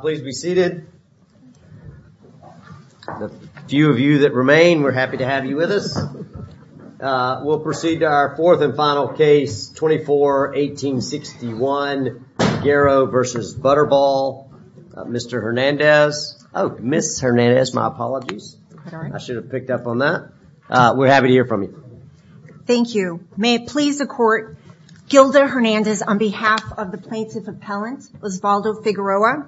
Please be seated. The few of you that remain, we're happy to have you with us. We'll proceed to our fourth and final case, 24-1861, Figueroa v. Butterball. Mr. Hernandez, oh, Ms. Hernandez, my apologies. I should have picked up on that. We're happy to hear from you. Thank you. May it please the court, Gilda Hernandez on behalf of the plaintiff appellant, Osvaldo Figueroa.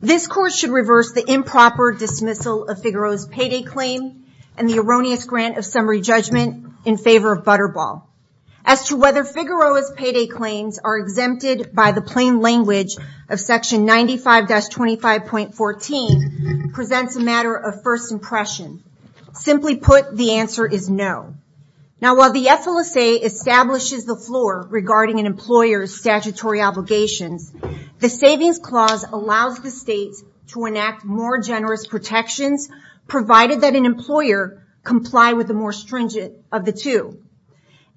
This court should reverse the improper dismissal of Figueroa's payday claim and the erroneous grant of summary judgment in favor of Butterball. As to whether Figueroa's payday claims are exempted by the plain language of section 95-25.14 presents a matter of first impression. Simply put, the answer is no. Now while the FLSA establishes the floor regarding an employer's statutory obligations, the savings clause allows the states to enact more generous protections provided that an employer comply with the more stringent of the two.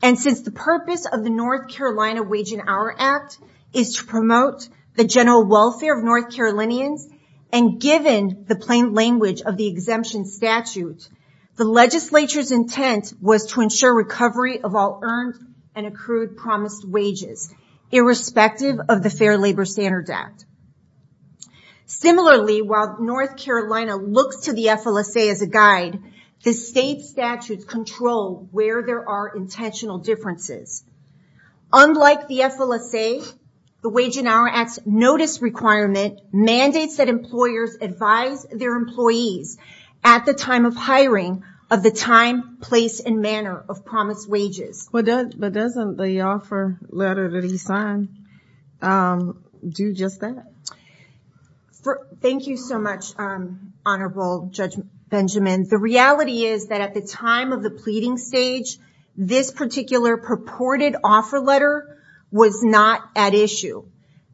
Since the purpose of the North Carolina Wage and Hour Act is to promote the general welfare of North Carolinians and given the plain language of the summary of all earned and accrued promised wages, irrespective of the Fair Labor Standards Act. Similarly, while North Carolina looks to the FLSA as a guide, the state statutes control where there are intentional differences. Unlike the FLSA, the Wage and Hour Act's notice requirement mandates that employers advise their employees at the time of hiring of the time, place and manner of promised wages. But doesn't the offer letter that he signed do just that? Thank you so much, Honorable Judge Benjamin. The reality is that at the time of the pleading stage, this particular purported offer letter was not at issue.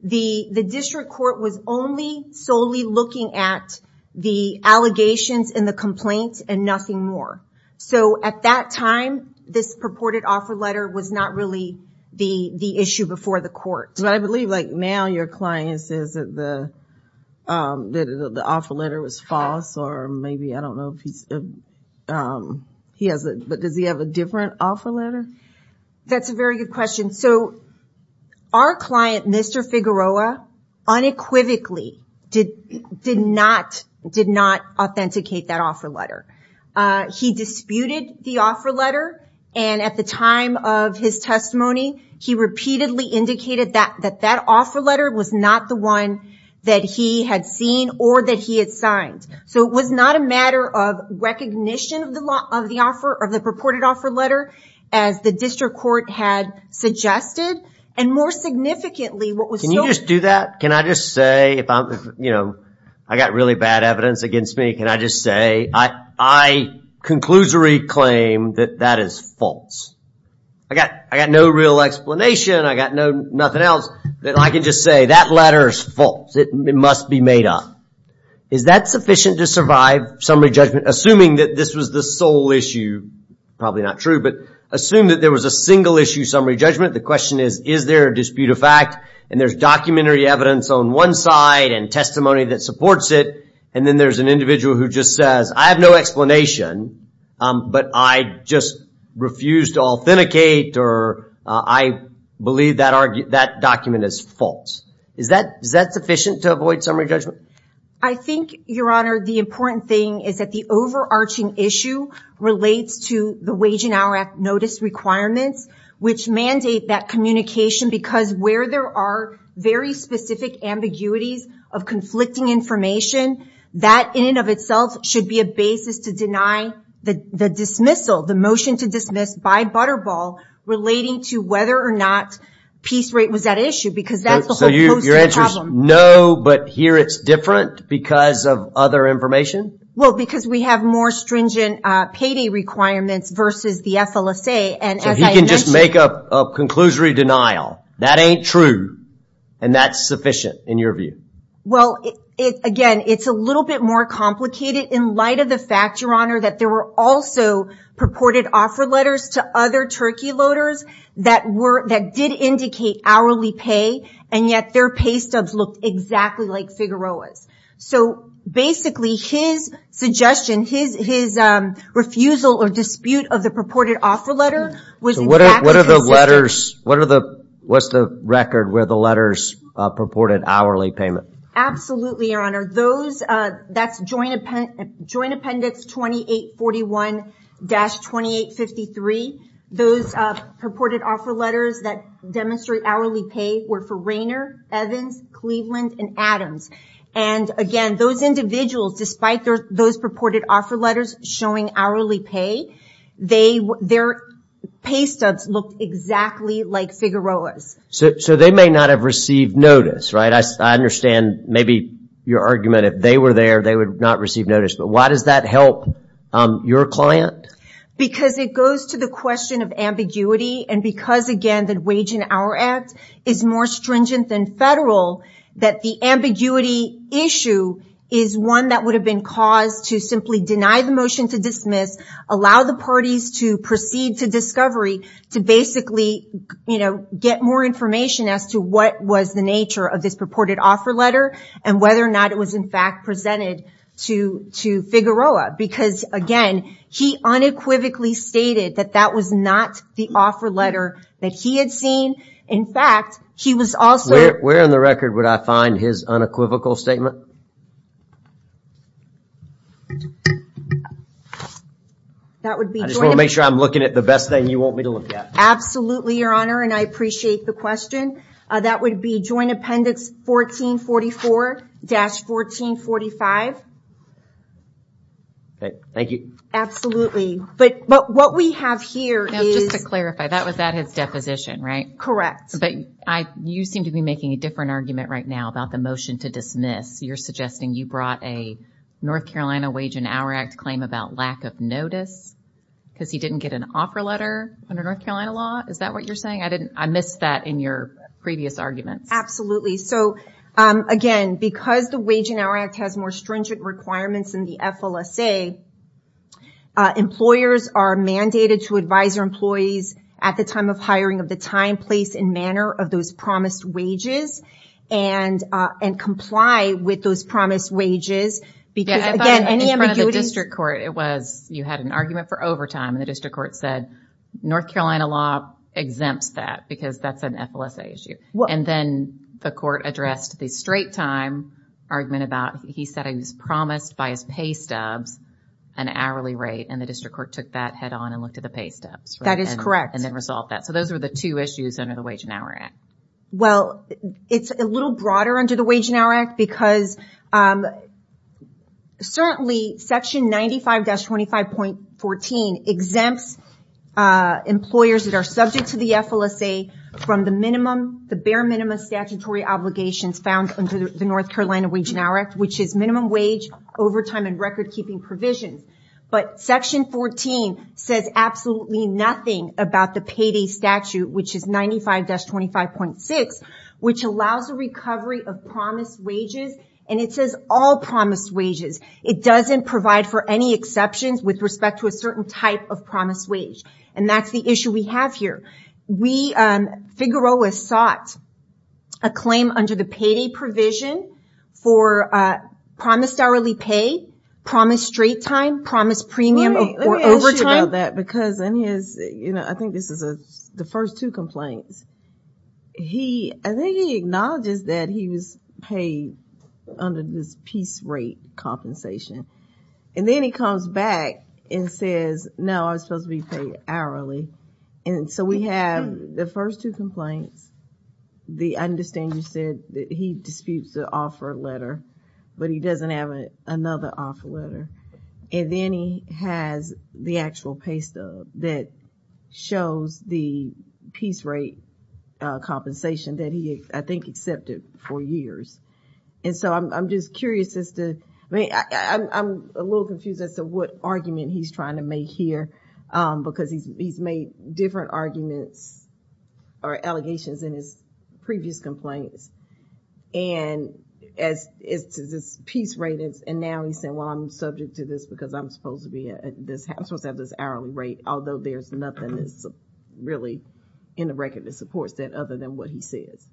The district court was only solely looking at the allegations and the complaints and nothing more. So at that time, this purported offer letter was not really the issue before the court. But I believe now your client says that the offer letter was false or maybe, I don't know, but does he have a different offer letter? That's a very good question. So our client, Mr. Figueroa, unequivocally did not authenticate that offer letter. He disputed the offer letter, and at the time of his testimony, he repeatedly indicated that that offer letter was not the one that he had seen or that he had signed. So it was not a matter of recognition of the purported offer letter as the district court had suggested. And more significantly, what was so... I've got really bad evidence against me. Can I just say, I conclusory claim that that is false. I've got no real explanation. I've got nothing else. I can just say that letter is false. It must be made up. Is that sufficient to survive summary judgment, assuming that this was the sole issue? Probably not true, but assume that there was a single issue summary judgment. The question is, is there a dispute of fact? And there's documentary evidence on one side and testimony that supports it. And then there's an individual who just says, I have no explanation, but I just refused to authenticate, or I believe that document is false. Is that sufficient to avoid summary judgment? I think, Your Honor, the important thing is that the overarching issue relates to the Wage and Hour Act notice requirements, which mandate that communication, because where there are very specific ambiguities of conflicting information, that in and of itself should be a basis to deny the dismissal, the motion to dismiss by Butterball, relating to whether or not peace rate was at issue, because that's the whole poster problem. So your answer is no, but here it's different because of other information? Well, because we have more stringent payday requirements versus the FLSA. So he can just make up a conclusory denial, that ain't true, and that's sufficient, in your view? Well, again, it's a little bit more complicated in light of the fact, Your Honor, that there were also purported offer letters to other turkey loaders that did indicate hourly pay, and yet their pay stubs looked exactly like Figueroa's. So basically his suggestion, his refusal or dispute of the purported offer letter was exactly consistent. What's the record where the letters purported hourly payment? Absolutely, Your Honor. That's Joint Appendix 2841-2853. Those purported offer letters that demonstrate hourly pay were for Rainer, Evans, Cleveland, and Adams. And again, those individuals, despite those purported offer letters showing hourly pay, their pay stubs looked exactly like Figueroa's. So they may not have received notice, right? I understand maybe your argument, if they were there, they would not receive notice, but why does that help your client? Because it goes to the question of ambiguity, and because, again, the Wage and Hour Act is more stringent than federal, that the ambiguity issue is one that would have been caused to simply deny the motion to dismiss, allow the parties to proceed to discovery, to basically get more information as to what was the nature of this purported offer letter, and whether or not it was in fact presented to Figueroa. Because, again, he unequivocally stated that that was not the offer letter that he had seen. In fact, he was also... Where on the record would I find his unequivocal statement? That would be... I just want to make sure I'm looking at the best thing you want me to look at. Absolutely, Your Honor, and I appreciate the question. That would be Joint Appendix 1444-1445. Thank you. Absolutely. But what we have here is... Now, just to clarify, that was at his deposition, right? Correct. But you seem to be making a different argument right now about the motion to dismiss. You're suggesting you brought a North Carolina Wage and Hour Act claim about lack of notice because he didn't get an offer letter under North Carolina law. Is that what you're saying? I missed that in your previous arguments. Absolutely. Again, because the Wage and Hour Act has more stringent requirements in the FLSA, employers are mandated to advise their employees at the time of hiring of the time, place, and manner of those promised wages, and comply with those promised wages. Yeah, I thought in front of the district court, you had an argument for overtime and the district court said, North Carolina law exempts that because that's an FLSA issue. Then the court addressed the straight time argument about... He said it was promised by his pay stubs, an hourly rate, and the district court took that head on and looked at the pay stubs. That is correct. And then resolved that. Those are the two issues under the Wage and Hour Act. It's a little broader under the Wage and Hour Act because certainly section 95-25.14 exempts employers that are subject to the FLSA from the bare minimum statutory obligations found under the North Carolina Wage and Hour Act, which is minimum wage, overtime, and record the payday statute, which is 95-25.6, which allows a recovery of promised wages. It says all promised wages. It doesn't provide for any exceptions with respect to a certain type of promised wage. That's the issue we have here. We, Figueroa, sought a claim under the payday provision for promised hourly pay, promised straight time, promised premium of overtime. I think this is the first two complaints. I think he acknowledges that he was paid under this piece rate compensation. And then he comes back and says, no, I was supposed to be paid hourly. And so we have the first two complaints. I understand you said that he disputes the letter, but he doesn't have another offer letter. And then he has the actual pay stub that shows the piece rate compensation that he, I think, accepted for years. And so I'm just curious as to, I mean, I'm a little confused as to what argument he's trying to make here because he's made different arguments or allegations in his previous complaints. And as to this piece rate, and now he's saying, well, I'm subject to this because I'm supposed to have this hourly rate, although there's nothing that's really in the record that supports that other than what he says.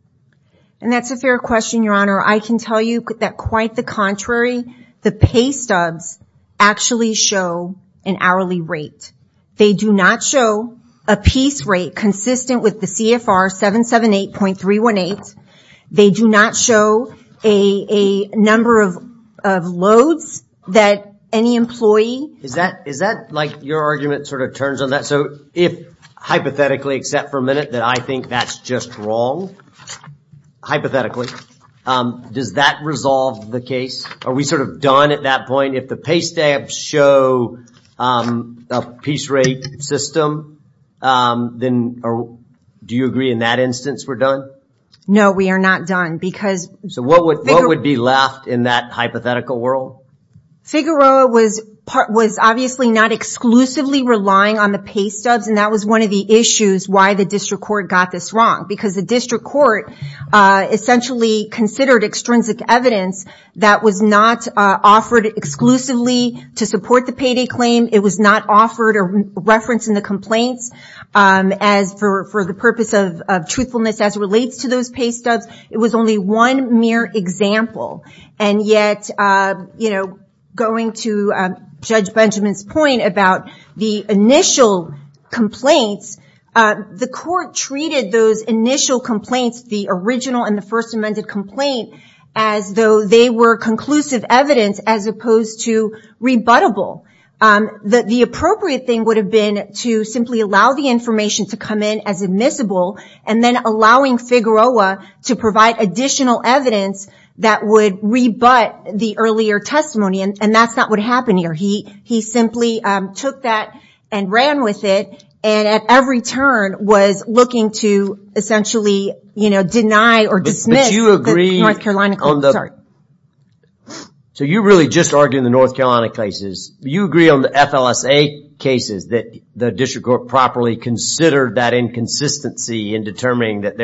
And that's a fair question, Your Honor. I can tell you that quite the contrary. The piece rate consistent with the CFR 778.318. They do not show a number of loads that any employee... Is that like your argument sort of turns on that? So if hypothetically, except for a minute, that I think that's just wrong, hypothetically, does that resolve the case? Are we sort of done at that point? If the pay stubs show a piece rate system, then do you agree in that instance we're done? No, we are not done because... So what would be left in that hypothetical world? Figueroa was obviously not exclusively relying on the pay stubs, and that was one of the issues why the district court got this wrong. Because the district court essentially considered extrinsic evidence that was not offered exclusively to support the payday claim. It was not offered a reference in the complaints for the purpose of truthfulness as it relates to those pay stubs. It was only one mere example. And yet, going to Judge Benjamin's point about the initial complaints, the court treated those initial complaints, the original and the first amended complaint, as though they were conclusive evidence as opposed to rebuttable. The appropriate thing would have been to simply allow the information to come in as admissible, and then allowing Figueroa to provide additional evidence that would rebut the earlier testimony. And that's not what happened here. He simply took that and ran with it, and at every turn was looking to essentially deny or dismiss... But you agree... The North Carolina... Sorry. So you're really just arguing the North Carolina cases. You agree on the FLSA cases that the district court properly considered that inconsistency in determining that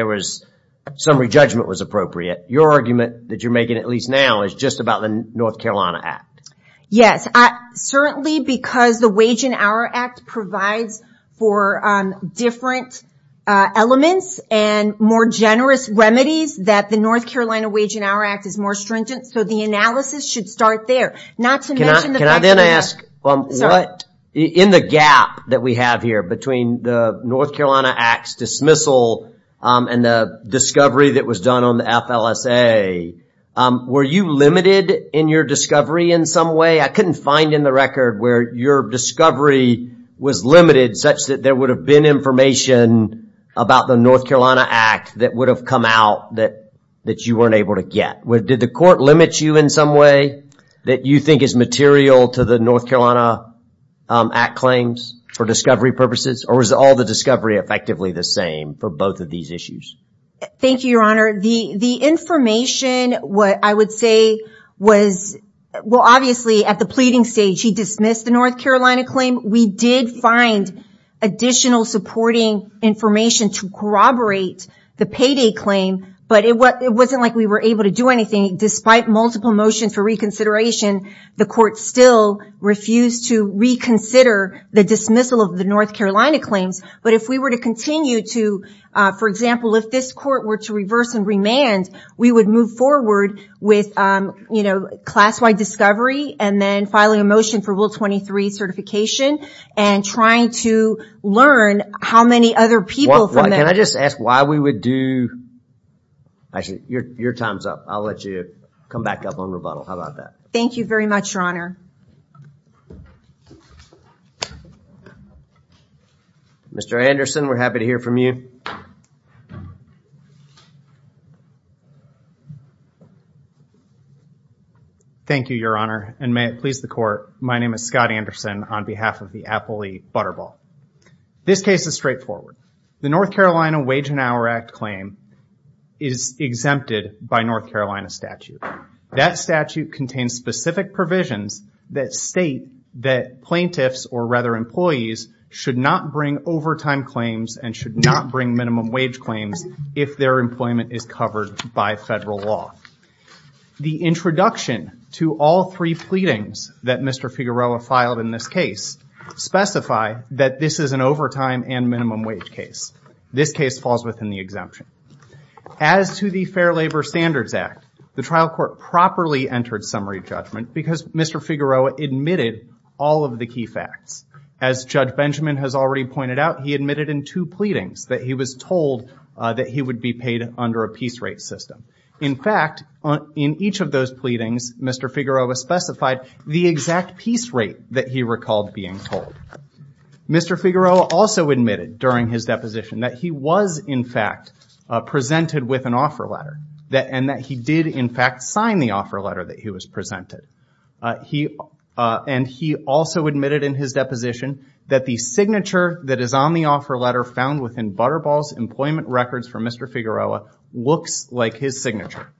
summary judgment was appropriate. Your argument, that you're making at least now, is just about the North Carolina Act. Yes. Certainly, because the Wage and Hour Act provides for different elements and more generous remedies, that the North Carolina Wage and Hour Act is more stringent. So the analysis should start there. Not to mention the fact that... Can I then ask, in the gap that we have here between the North Carolina Act's dismissal and the discovery that was done on the FLSA, were you limited in your discovery in some way? I couldn't find in the record where your discovery was limited such that there would have been information about the North Carolina Act that would have come out that you weren't able to get. Did the court limit you in some way that you think is material to the North Carolina Act claims for discovery purposes? Or was all the discovery effectively the same for both of these issues? Thank you, Your Honor. The information, what I would say was... Well, obviously, at the pleading stage, he dismissed the North Carolina claim. We did find additional supporting information to corroborate the payday claim, but it wasn't like we were able to do anything. Despite multiple motions for reconsideration, the court still refused to reconsider the dismissal of the North Carolina claims. But if we were to continue to... For example, if this court were to reverse and remand, we would move forward with class-wide discovery and then filing a motion for Will 23 certification and trying to learn how many other people... Can I just ask why we would do... Actually, your time's up. I'll let you come back up on rebuttal. How about that? Thank you very much, Your Honor. Mr. Anderson, we're happy to hear from you. Thank you, Your Honor. And may it please the court, my name is Scott Anderson on behalf of the Appley Butterball. This case is straightforward. The North Carolina Wage and Hour Act claim is exempted by North Carolina statute. That statute contains specific provisions that state that plaintiffs or rather employees should not bring overtime claims and should not bring minimum wage claims if their employment is covered by federal law. The introduction to all three pleadings that Mr. Figueroa filed in this case specify that this is an overtime and minimum wage case. This case falls within the exemption. As to the Fair Labor Standards Act, the trial court properly entered summary judgment because Mr. Figueroa admitted all of the key facts. As Judge Benjamin has already pointed out, he admitted in two pleadings that he was told that he would be paid under a piece rate system. In fact, in each of those pleadings, Mr. Figueroa specified the exact piece rate that he recalled being told. Mr. Figueroa also admitted during his deposition that he was in fact presented with an offer letter and that he did in fact sign the offer letter that he was presented. And he also admitted in his deposition that the signature that is on the offer letter found within Butterball's employment records for Mr. Figueroa looks like his signature.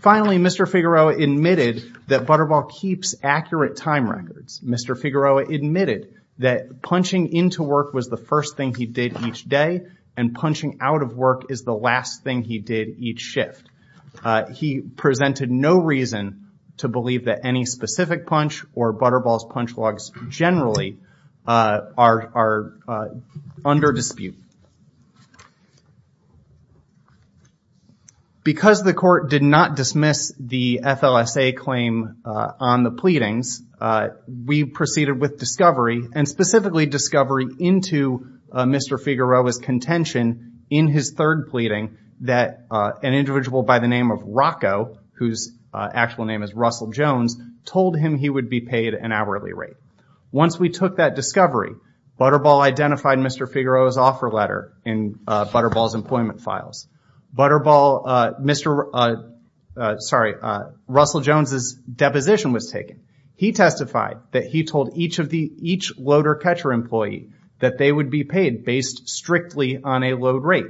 Finally, Mr. Figueroa admitted that Butterball keeps accurate time records. Mr. Figueroa admitted that punching into work was the first thing he did each day and punching out of work is the last thing he did each shift. He presented no reason to believe that any specific punch or Butterball's punch logs generally are under dispute. Because the court did not dismiss the FLSA claim on the pleadings, we proceeded with discovery and specifically discovery into Mr. Figueroa's third pleading that an individual by the name of Rocco, whose actual name is Russell Jones, told him he would be paid an hourly rate. Once we took that discovery, Butterball identified Mr. Figueroa's offer letter in Butterball's employment files. Russell Jones's deposition was taken. He testified that he told each loader catcher employee that they would be paid based strictly on a load rate.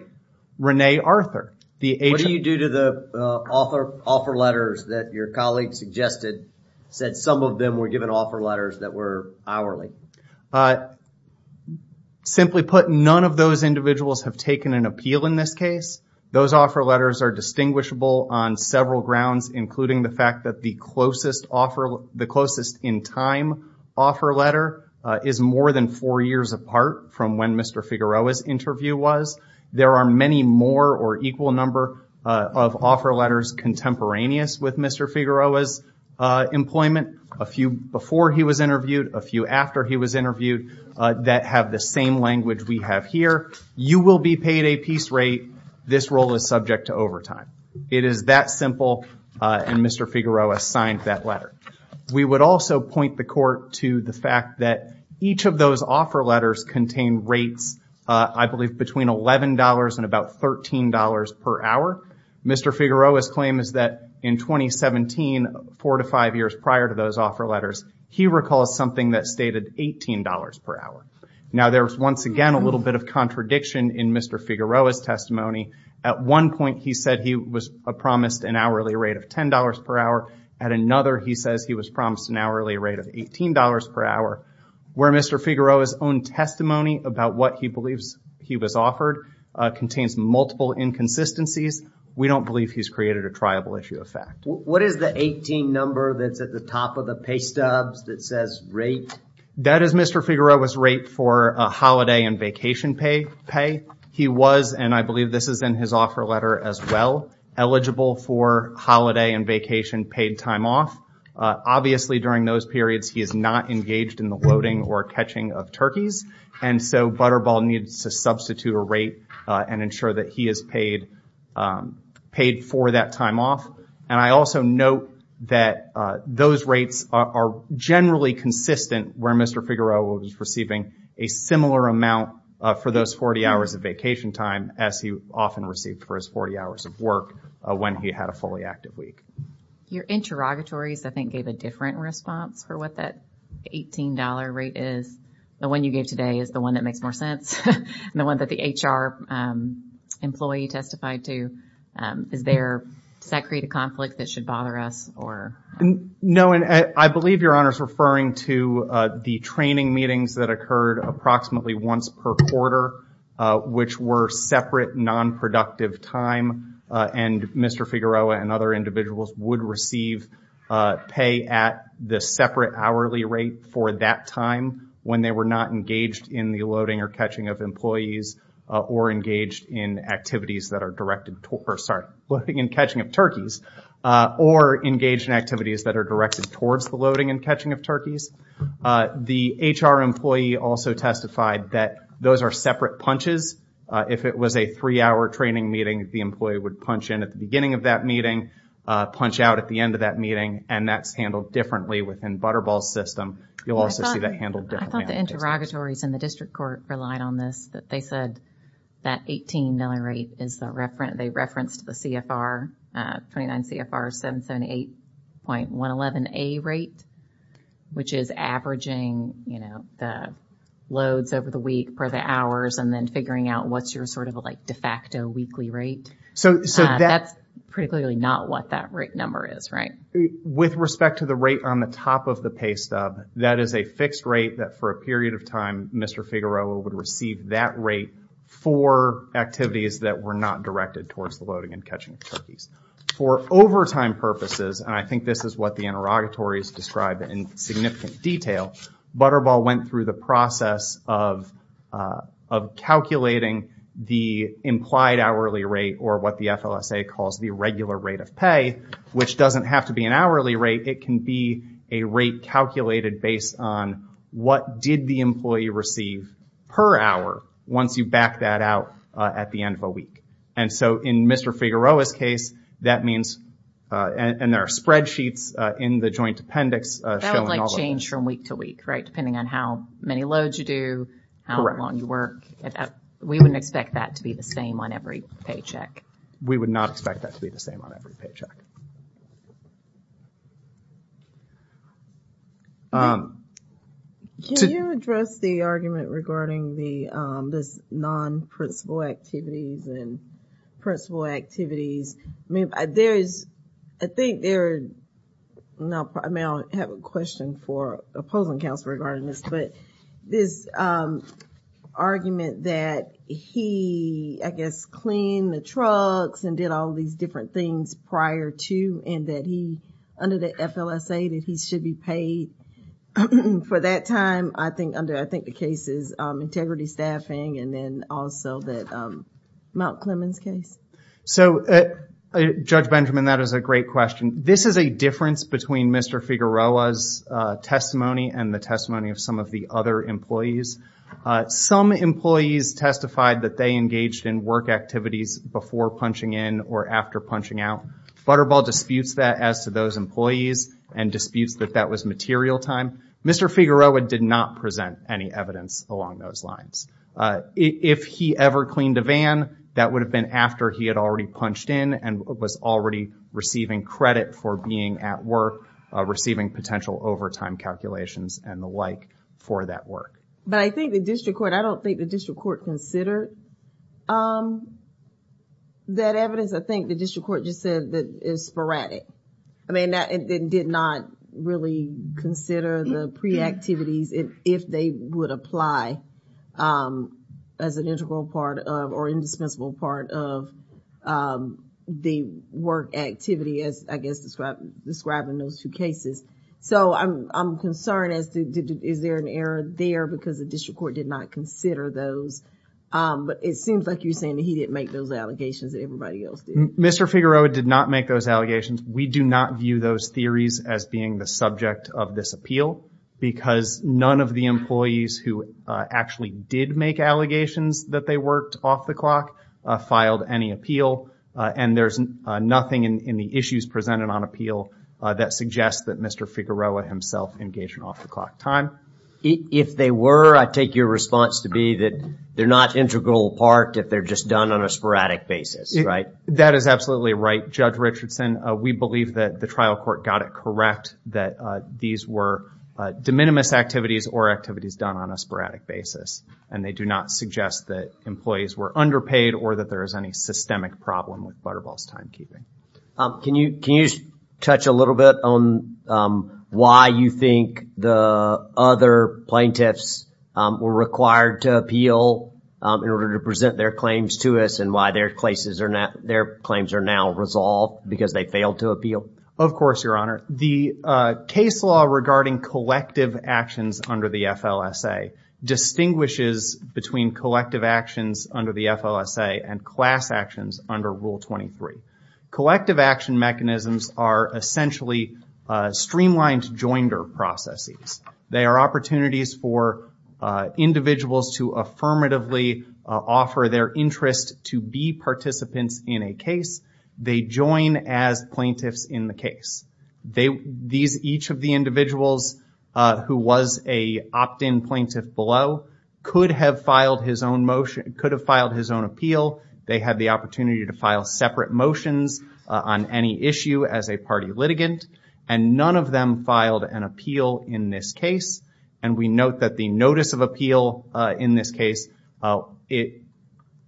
Rene Arthur, the agent... What do you do to the offer letters that your colleague suggested said some of them were given offer letters that were hourly? Simply put, none of those individuals have taken an appeal in this case. Those offer letters are distinguishable on several grounds including the fact that the closest in time offer letter is more than four years apart from when Mr. Figueroa's interview was. There are many more or equal number of offer letters contemporaneous with Mr. Figueroa's employment. A few before he was interviewed, a few after he was interviewed that have the same language we have here. You will be paid a piece rate. This role is subject to overtime. It is that simple and Mr. Figueroa signed that letter. We would also point the court to the fact that each of those offer letters contain rates, I believe, between $11 and about $13 per hour. Mr. Figueroa's claim is that in 2017, four to five years prior to those offer letters, he recalls something that stated $18 per hour. Now there's once again a little bit of contradiction in Mr. Figueroa's testimony. At one point, he said he was promised an hourly rate of $10 per hour. At another, he says he was promised an hourly rate of $18 per hour where Mr. Figueroa's own testimony about what he believes he was offered contains multiple inconsistencies. We don't believe he's created a triable issue of fact. What is the 18 number that's at the top of the pay stubs that says rate? That is Mr. Figueroa's rate for a holiday and vacation pay. He was, and I believe this is in his offer letter as well, eligible for holiday and vacation paid time off. Obviously, during those periods, he is not engaged in the loading or catching of turkeys and so Butterball needs to substitute a rate and ensure that he is paid for that time off. I also note that those rates are generally consistent where Mr. Figueroa was receiving a similar amount for those 40 hours of vacation time as he often received for his 40 hours of work when he had a fully active week. Your interrogatories, I think, gave a different response for what that $18 rate is. The one you gave today is the one that makes more sense and the one that the HR employee testified to. Is there, does that create a conflict that should bother us or? No, and I believe Your Honor is referring to the training meetings that occurred approximately once per quarter which were separate non-productive time and Mr. Figueroa and other individuals would receive pay at the separate hourly rate for that time when they were not engaged in the loading or catching of employees or engaged in activities that are directed, or sorry, loading and catching of turkeys or engaged in activities that are directed towards the loading and catching of The HR employee also testified that those are separate punches. If it was a three-hour training meeting, the employee would punch in at the beginning of that meeting, punch out at the end of that meeting, and that's handled differently within Butterball's system. You'll also see that handled differently. I thought the interrogatories in the district court relied on this, that they said that $18 rate is the reference, they referenced the CFR, 29 CFR 778.111A rate, which is averaging, you know, the loads over the week per the hours, and then figuring out what's your sort of like de facto weekly rate. So, that's pretty clearly not what that rate number is, right? With respect to the rate on the top of the pay stub, that is a fixed rate that for a period of time Mr. Figueroa would receive that rate for activities that were not directed towards the loading and catching. For overtime purposes, and I think this is what the interrogatories described in significant detail, Butterball went through the process of calculating the implied hourly rate or what the FLSA calls the regular rate of pay, which doesn't have to be an hourly rate, it can be a rate calculated based on what did the employee receive per hour once you back that out at the end of a week. And so, in Mr. Figueroa's case, that means, and there are spreadsheets in the joint appendix. That would like change from week to week, right? Depending on how many loads you do, how long you work. We wouldn't expect that to be the same on every paycheck. We would not expect that to be the same on every paycheck. Can you address the argument regarding the non-principal activities and principal activities? I mean, there is, I think there, now I have a question for opposing counsel regarding this, but this argument that he, I guess, cleaned the trucks and did all these different things prior to and that he, under the FLSA, that he should be paid for that time, I think under, I think the case is integrity staffing and then also that Mount Clemens case. So, Judge Benjamin, that is a great question. This is a difference between Mr. Figueroa's and the testimony of some of the other employees. Some employees testified that they engaged in work activities before punching in or after punching out. Butterball disputes that as to those employees and disputes that that was material time. Mr. Figueroa did not present any evidence along those lines. If he ever cleaned a van, that would have been after he had already punched in and was already receiving credit for being at work, receiving potential overtime calculations and the like for that work. But I think the district court, I don't think the district court considered that evidence. I think the district court just said that it's sporadic. I mean, that it did not really consider the pre-activities if they would apply as an integral part of or indispensable part of the work activity as, I guess, described in those two cases. So, I'm concerned as to is there an error there because the district court did not consider those. But it seems like you're saying that he didn't make those allegations and everybody else did. Mr. Figueroa did not make those allegations. We do not view those theories as being the subject of this appeal because none of the employees who actually did make allegations that they worked off the clock filed any appeal. And there's nothing in the issues presented on appeal that suggests that Mr. Figueroa himself engaged in off-the-clock time. If they were, I take your response to be that they're not integral part if they're just done on a sporadic basis, right? That is absolutely right, Judge Richardson. We believe that the trial court got it correct that these were de minimis activities or activities done on a sporadic basis. And they do not suggest that employees were underpaid or that there is any systemic problem with Butterball's timekeeping. Can you touch a little bit on why you think the other plaintiffs were required to appeal in order to present their claims to us and why their claims are now resolved because they failed to appeal? Of course, Your Honor. The case law regarding collective actions under the FLSA distinguishes between collective actions under the FLSA and class actions under Rule 23. Collective action mechanisms are essentially streamlined joinder processes. They are opportunities for individuals to affirmatively offer their interest to be participants in a case. They join as plaintiffs in the case. These each of the individuals who was a opt-in plaintiff below could have filed his own motion, could have filed his own appeal. They had the opportunity to file separate motions on any issue as a party litigant. And none of them filed an appeal in this case. And we note that the notice of appeal in this case, it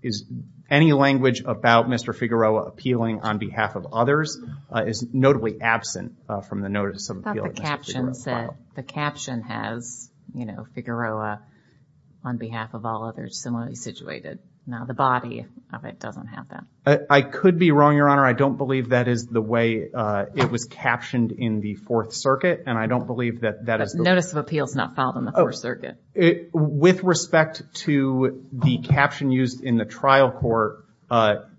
is any language about Mr. Figueroa appealing on behalf of others is notably absent from the notice of appeal that Mr. Figueroa filed. I thought the caption said, the caption has, you know, Figueroa on behalf of all others similarly situated. Now the body of it doesn't have that. I could be wrong, Your Honor. I don't believe that is the way it was captioned in the Fourth Circuit. And I don't believe that that is notice of appeals not filed in the Fourth Circuit. With respect to the caption used in the trial court,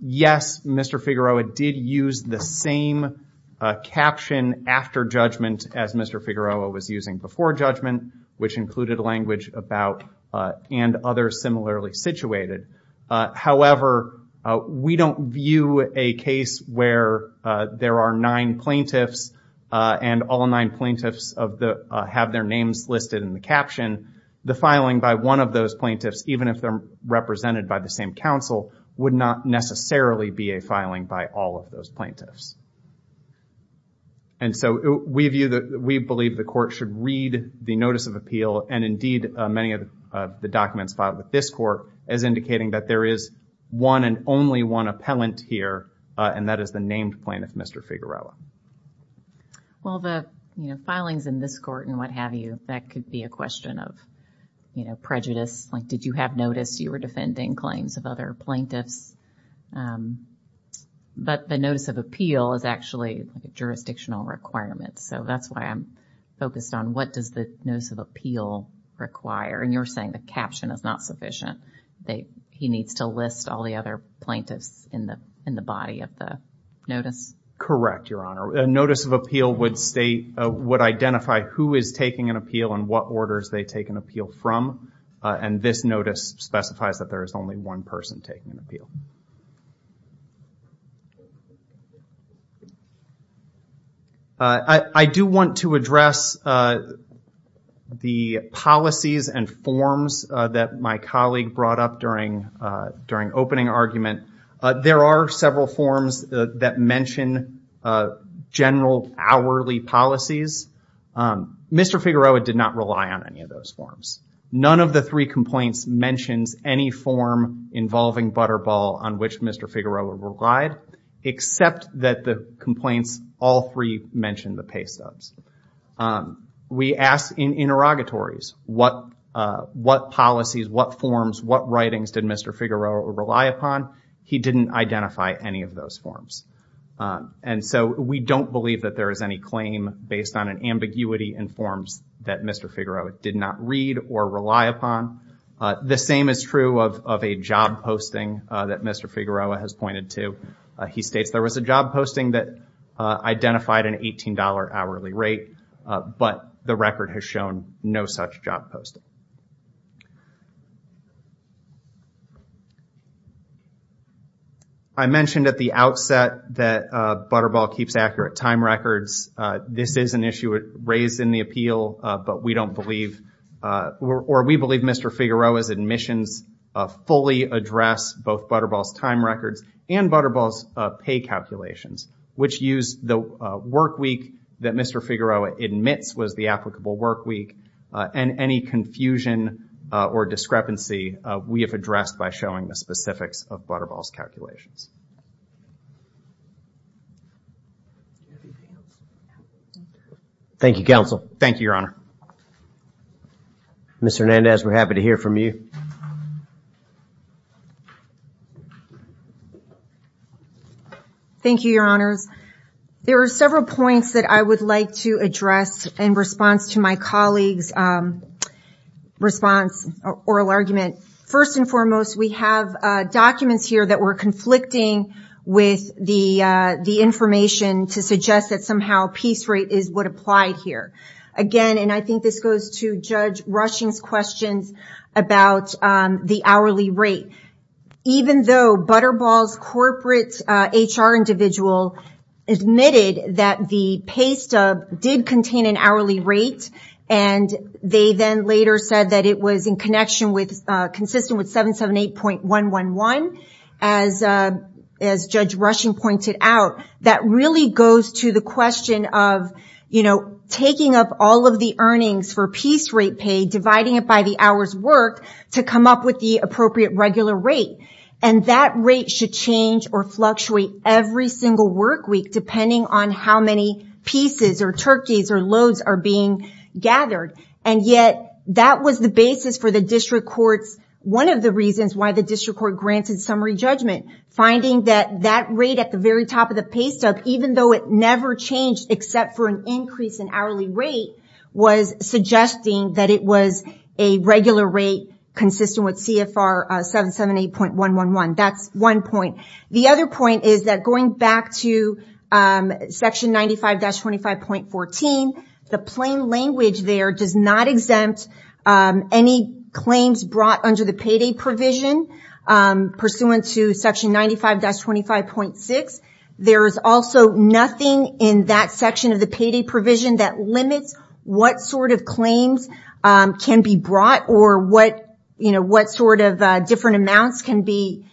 yes, Mr. Figueroa did use the same caption after judgment as Mr. Figueroa was using before judgment, which included language about, and others similarly situated. However, we don't view a case where there are nine plaintiffs and all nine plaintiffs have their names listed in the caption. The filing by one of those plaintiffs, even if they're represented by the same counsel, would not necessarily be a filing by all of those plaintiffs. And so we believe the court should read the notice of appeal and indeed many of the documents filed with this court as indicating that there is one and only one appellant here and that is the named plaintiff, Mr. Figueroa. Well, the, you know, filings in this court and what have you, that could be a question of, you know, prejudice. Like, did you have notice you were defending claims of other plaintiffs? But the notice of appeal is actually a jurisdictional requirement. So that's why I'm focused on what does the notice of appeal require? And you're saying the caption is not sufficient? He needs to list all the other plaintiffs in the body of the notice? Correct, Your Honor. A notice of appeal would state, would identify who is taking an appeal and what orders they take an appeal from. And this notice specifies that there is only one person taking an appeal. I do want to address the policies and forms that my colleague brought up during opening argument. There are several forms that mention general hourly policies. Mr. Figueroa did not rely on any of those forms. None of the three complaints mentions any form involving Butterball on which Mr. Figueroa relied, except that the complaints, all three mentioned the pay stubs. We asked in interrogatories, what policies, what forms, what writings did Mr. Figueroa rely upon? He didn't identify any of those forms. And so we don't believe that there is any claim based on an ambiguity in forms that Mr. Figueroa did not read or rely upon. The same is true of a job posting that Mr. Figueroa has pointed to. He states there was a job posting that identified an $18 hourly rate, but the record has shown no such job posting. I mentioned at the outset that Butterball keeps accurate time records. This is an issue raised in the appeal, but we don't believe, or we believe Mr. Figueroa's admissions fully address both Butterball's time records and Butterball's pay calculations, which use the work week that Mr. Figueroa admits was the applicable work week and any confusion or discrepancy we have addressed by showing the specifics of Butterball's calculations. Thank you, counsel. Thank you, your honor. Mr. Hernandez, we're happy to hear from you. Thank you, your honors. There are several points that I would like to address in response to my colleagues' response, oral argument. First and foremost, we have documents here that were conflicting with the information to suggest that somehow piece rate is what applied here. Again, and I think this goes to Judge Rushing's questions about the hourly rate. Even though Butterball's corporate HR individual admitted that the pay stub did contain an hourly rate, and they then later said that it was consistent with 778.111, as Judge Rushing pointed out, that really goes to the question of taking up all of the earnings for piece rate pay, dividing it by the hours worked to come up with the appropriate regular rate. That rate should change or fluctuate every single work week, depending on how many pieces or loads are being gathered. Yet, that was the basis for the district courts. One of the reasons why the district court granted summary judgment, finding that that rate at the very top of the pay stub, even though it never changed except for an increase in hourly rate, was suggesting that it was a regular rate consistent with CFR 778.111. That's one point. The other point is that going back to section 95-25.14, the plain language there does not exempt any claims brought under the payday provision pursuant to section 95-25.6. There is also nothing in that section of the payday provision that limits what sort of claims can be brought or what sort of different amounts can be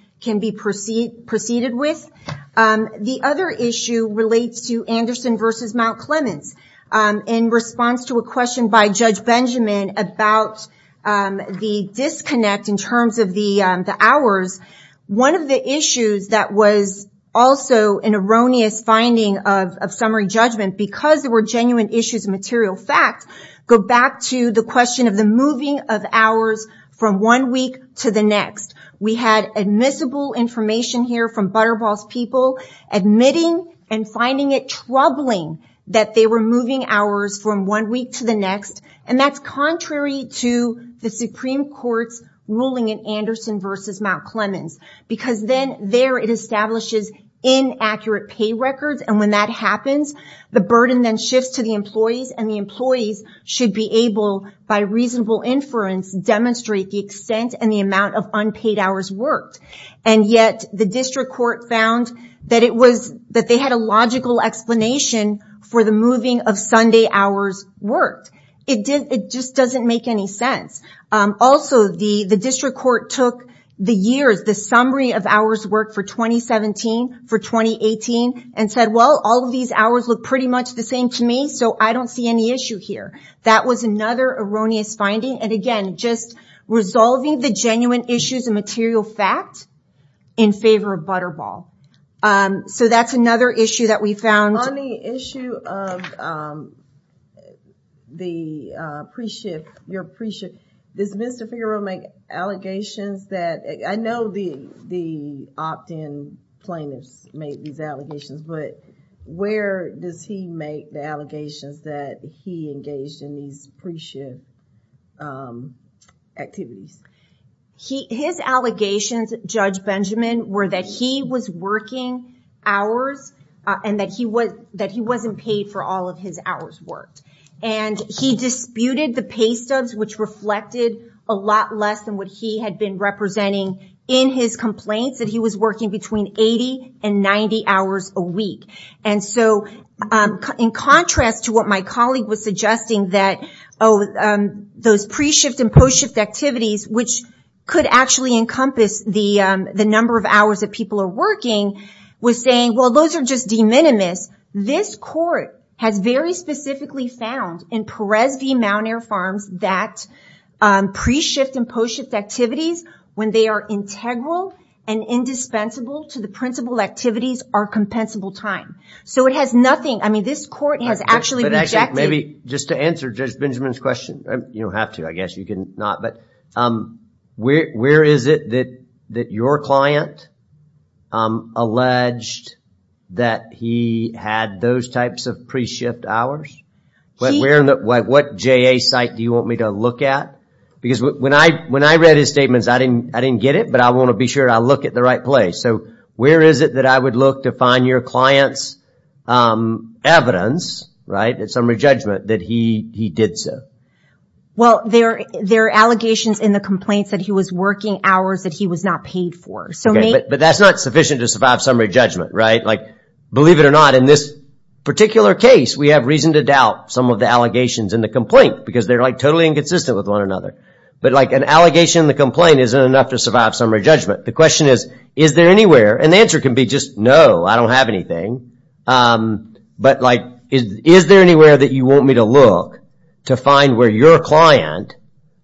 proceeded with. The other issue relates to Anderson versus Mount Clemens. In response to a question by Judge Benjamin about the disconnect in terms of the hours, one of the issues that was also an erroneous finding of summary judgment, because there were genuine issues and material facts, go back to the question of the moving of hours from one week to the next. We had admissible information here from Butterball's people admitting and finding it troubling that they were moving hours from one week to the next. That's contrary to the Supreme Court's ruling in Anderson versus Mount Clemens, because then there it establishes inaccurate pay records. When that happens, the burden then shifts to the employees, and the employees should be able, by reasonable inference, demonstrate the extent and the amount of unpaid hours worked. Yet, the district court found that they had a logical explanation for the moving of Sunday hours worked. It just doesn't make any sense. Also, the district court took the years, the summary of hours worked for 2017, for 2018, and said, well, all of these hours look pretty much the same to me, so I don't see any issue here. That was another erroneous finding. Again, just resolving the genuine issues and material facts in favor of Butterball. That's another issue that we found. On the issue of the pre-shift, your pre-shift, does Mr. Figueroa make allegations that, I know the opt-in plaintiffs made these allegations, but where does he make the allegations that he engaged in these pre-shift activities? His allegations, Judge Benjamin, were that he was working hours, and that he wasn't paid for all of his hours worked. He disputed the pay stubs, which reflected a lot less than what he had been representing in his complaints, that he was working between 80 and 90 hours a week. In contrast to what my colleague was suggesting, that those pre-shift and post-shift activities, which could actually encompass the number of hours that people are working, was saying, well, those are just de minimis. This court has very specifically found in Perez v. Mount Air Farms that pre-shift and post-shift activities, when they are integral and indispensable to the principal activities, are compensable time. This court has actually rejected- Maybe just to answer Judge Benjamin's question. You don't have to, I guess. You can not. Where is it that your client alleged that he had those types of pre-shift hours? What JA site do you want me to look at? Because when I read his statements, I didn't get it, but I want to be sure I look at the right place. Where is it that I would look to find your client's evidence, in summary judgment, that he did so? Well, there are allegations in the complaints that he was working hours that he was not paid for. But that's not sufficient to survive summary judgment, right? Believe it or not, in this particular case, we have reason to doubt some of the allegations in the complaint, because they're totally inconsistent with one another. But an allegation in the complaint isn't enough to survive summary judgment. The question is, is there anywhere? And the answer can be just, no, I don't have anything. But is there anywhere that you want me to look to find where your client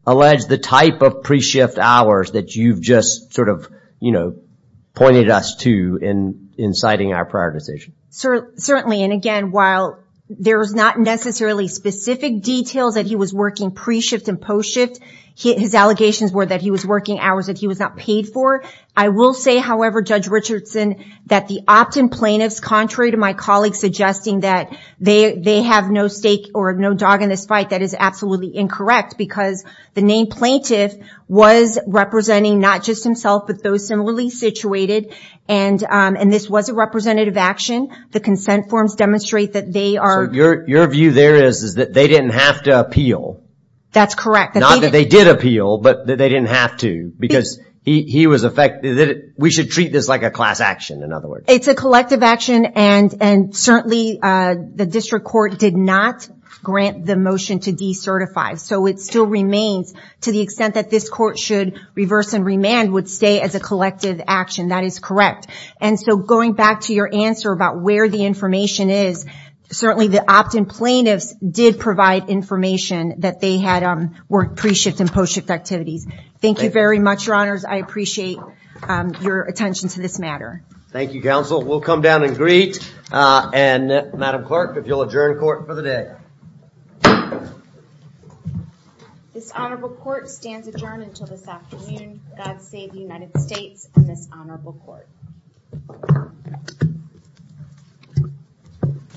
alleged the type of pre-shift hours that you've just pointed us to in citing our prioritization? Certainly. And again, while there's not necessarily specific details that he was working pre-shift and post-shift, his allegations were that he was working hours that he was not paid for. I will say, however, Judge Richardson, that the opt-in plaintiffs, contrary to my colleagues suggesting that they have no stake or no dog in this fight, that is absolutely incorrect, because the name plaintiff was representing not just himself, but those similarly situated. And this was a representative action. The consent forms demonstrate that they are- So your view there is that they didn't have to appeal. That's correct. Not that they did appeal, but that they didn't have to, because he was affected. We should treat this like a class action, in other words. It's a collective action, and certainly the district court did not grant the motion to decertify. So it still remains, to the extent that this court should reverse and remand, would stay as a collective action. That is correct. And so going back to your answer about where the information is, certainly the opt-in plaintiffs did provide information that they had worked pre-shift and post-shift activities. Thank you very much, your honors. I appreciate your attention to this matter. Thank you, counsel. We'll come down and greet. And Madam Clerk, if you'll adjourn court for the day. This honorable court stands adjourned until this afternoon. God save the United States and this honorable court.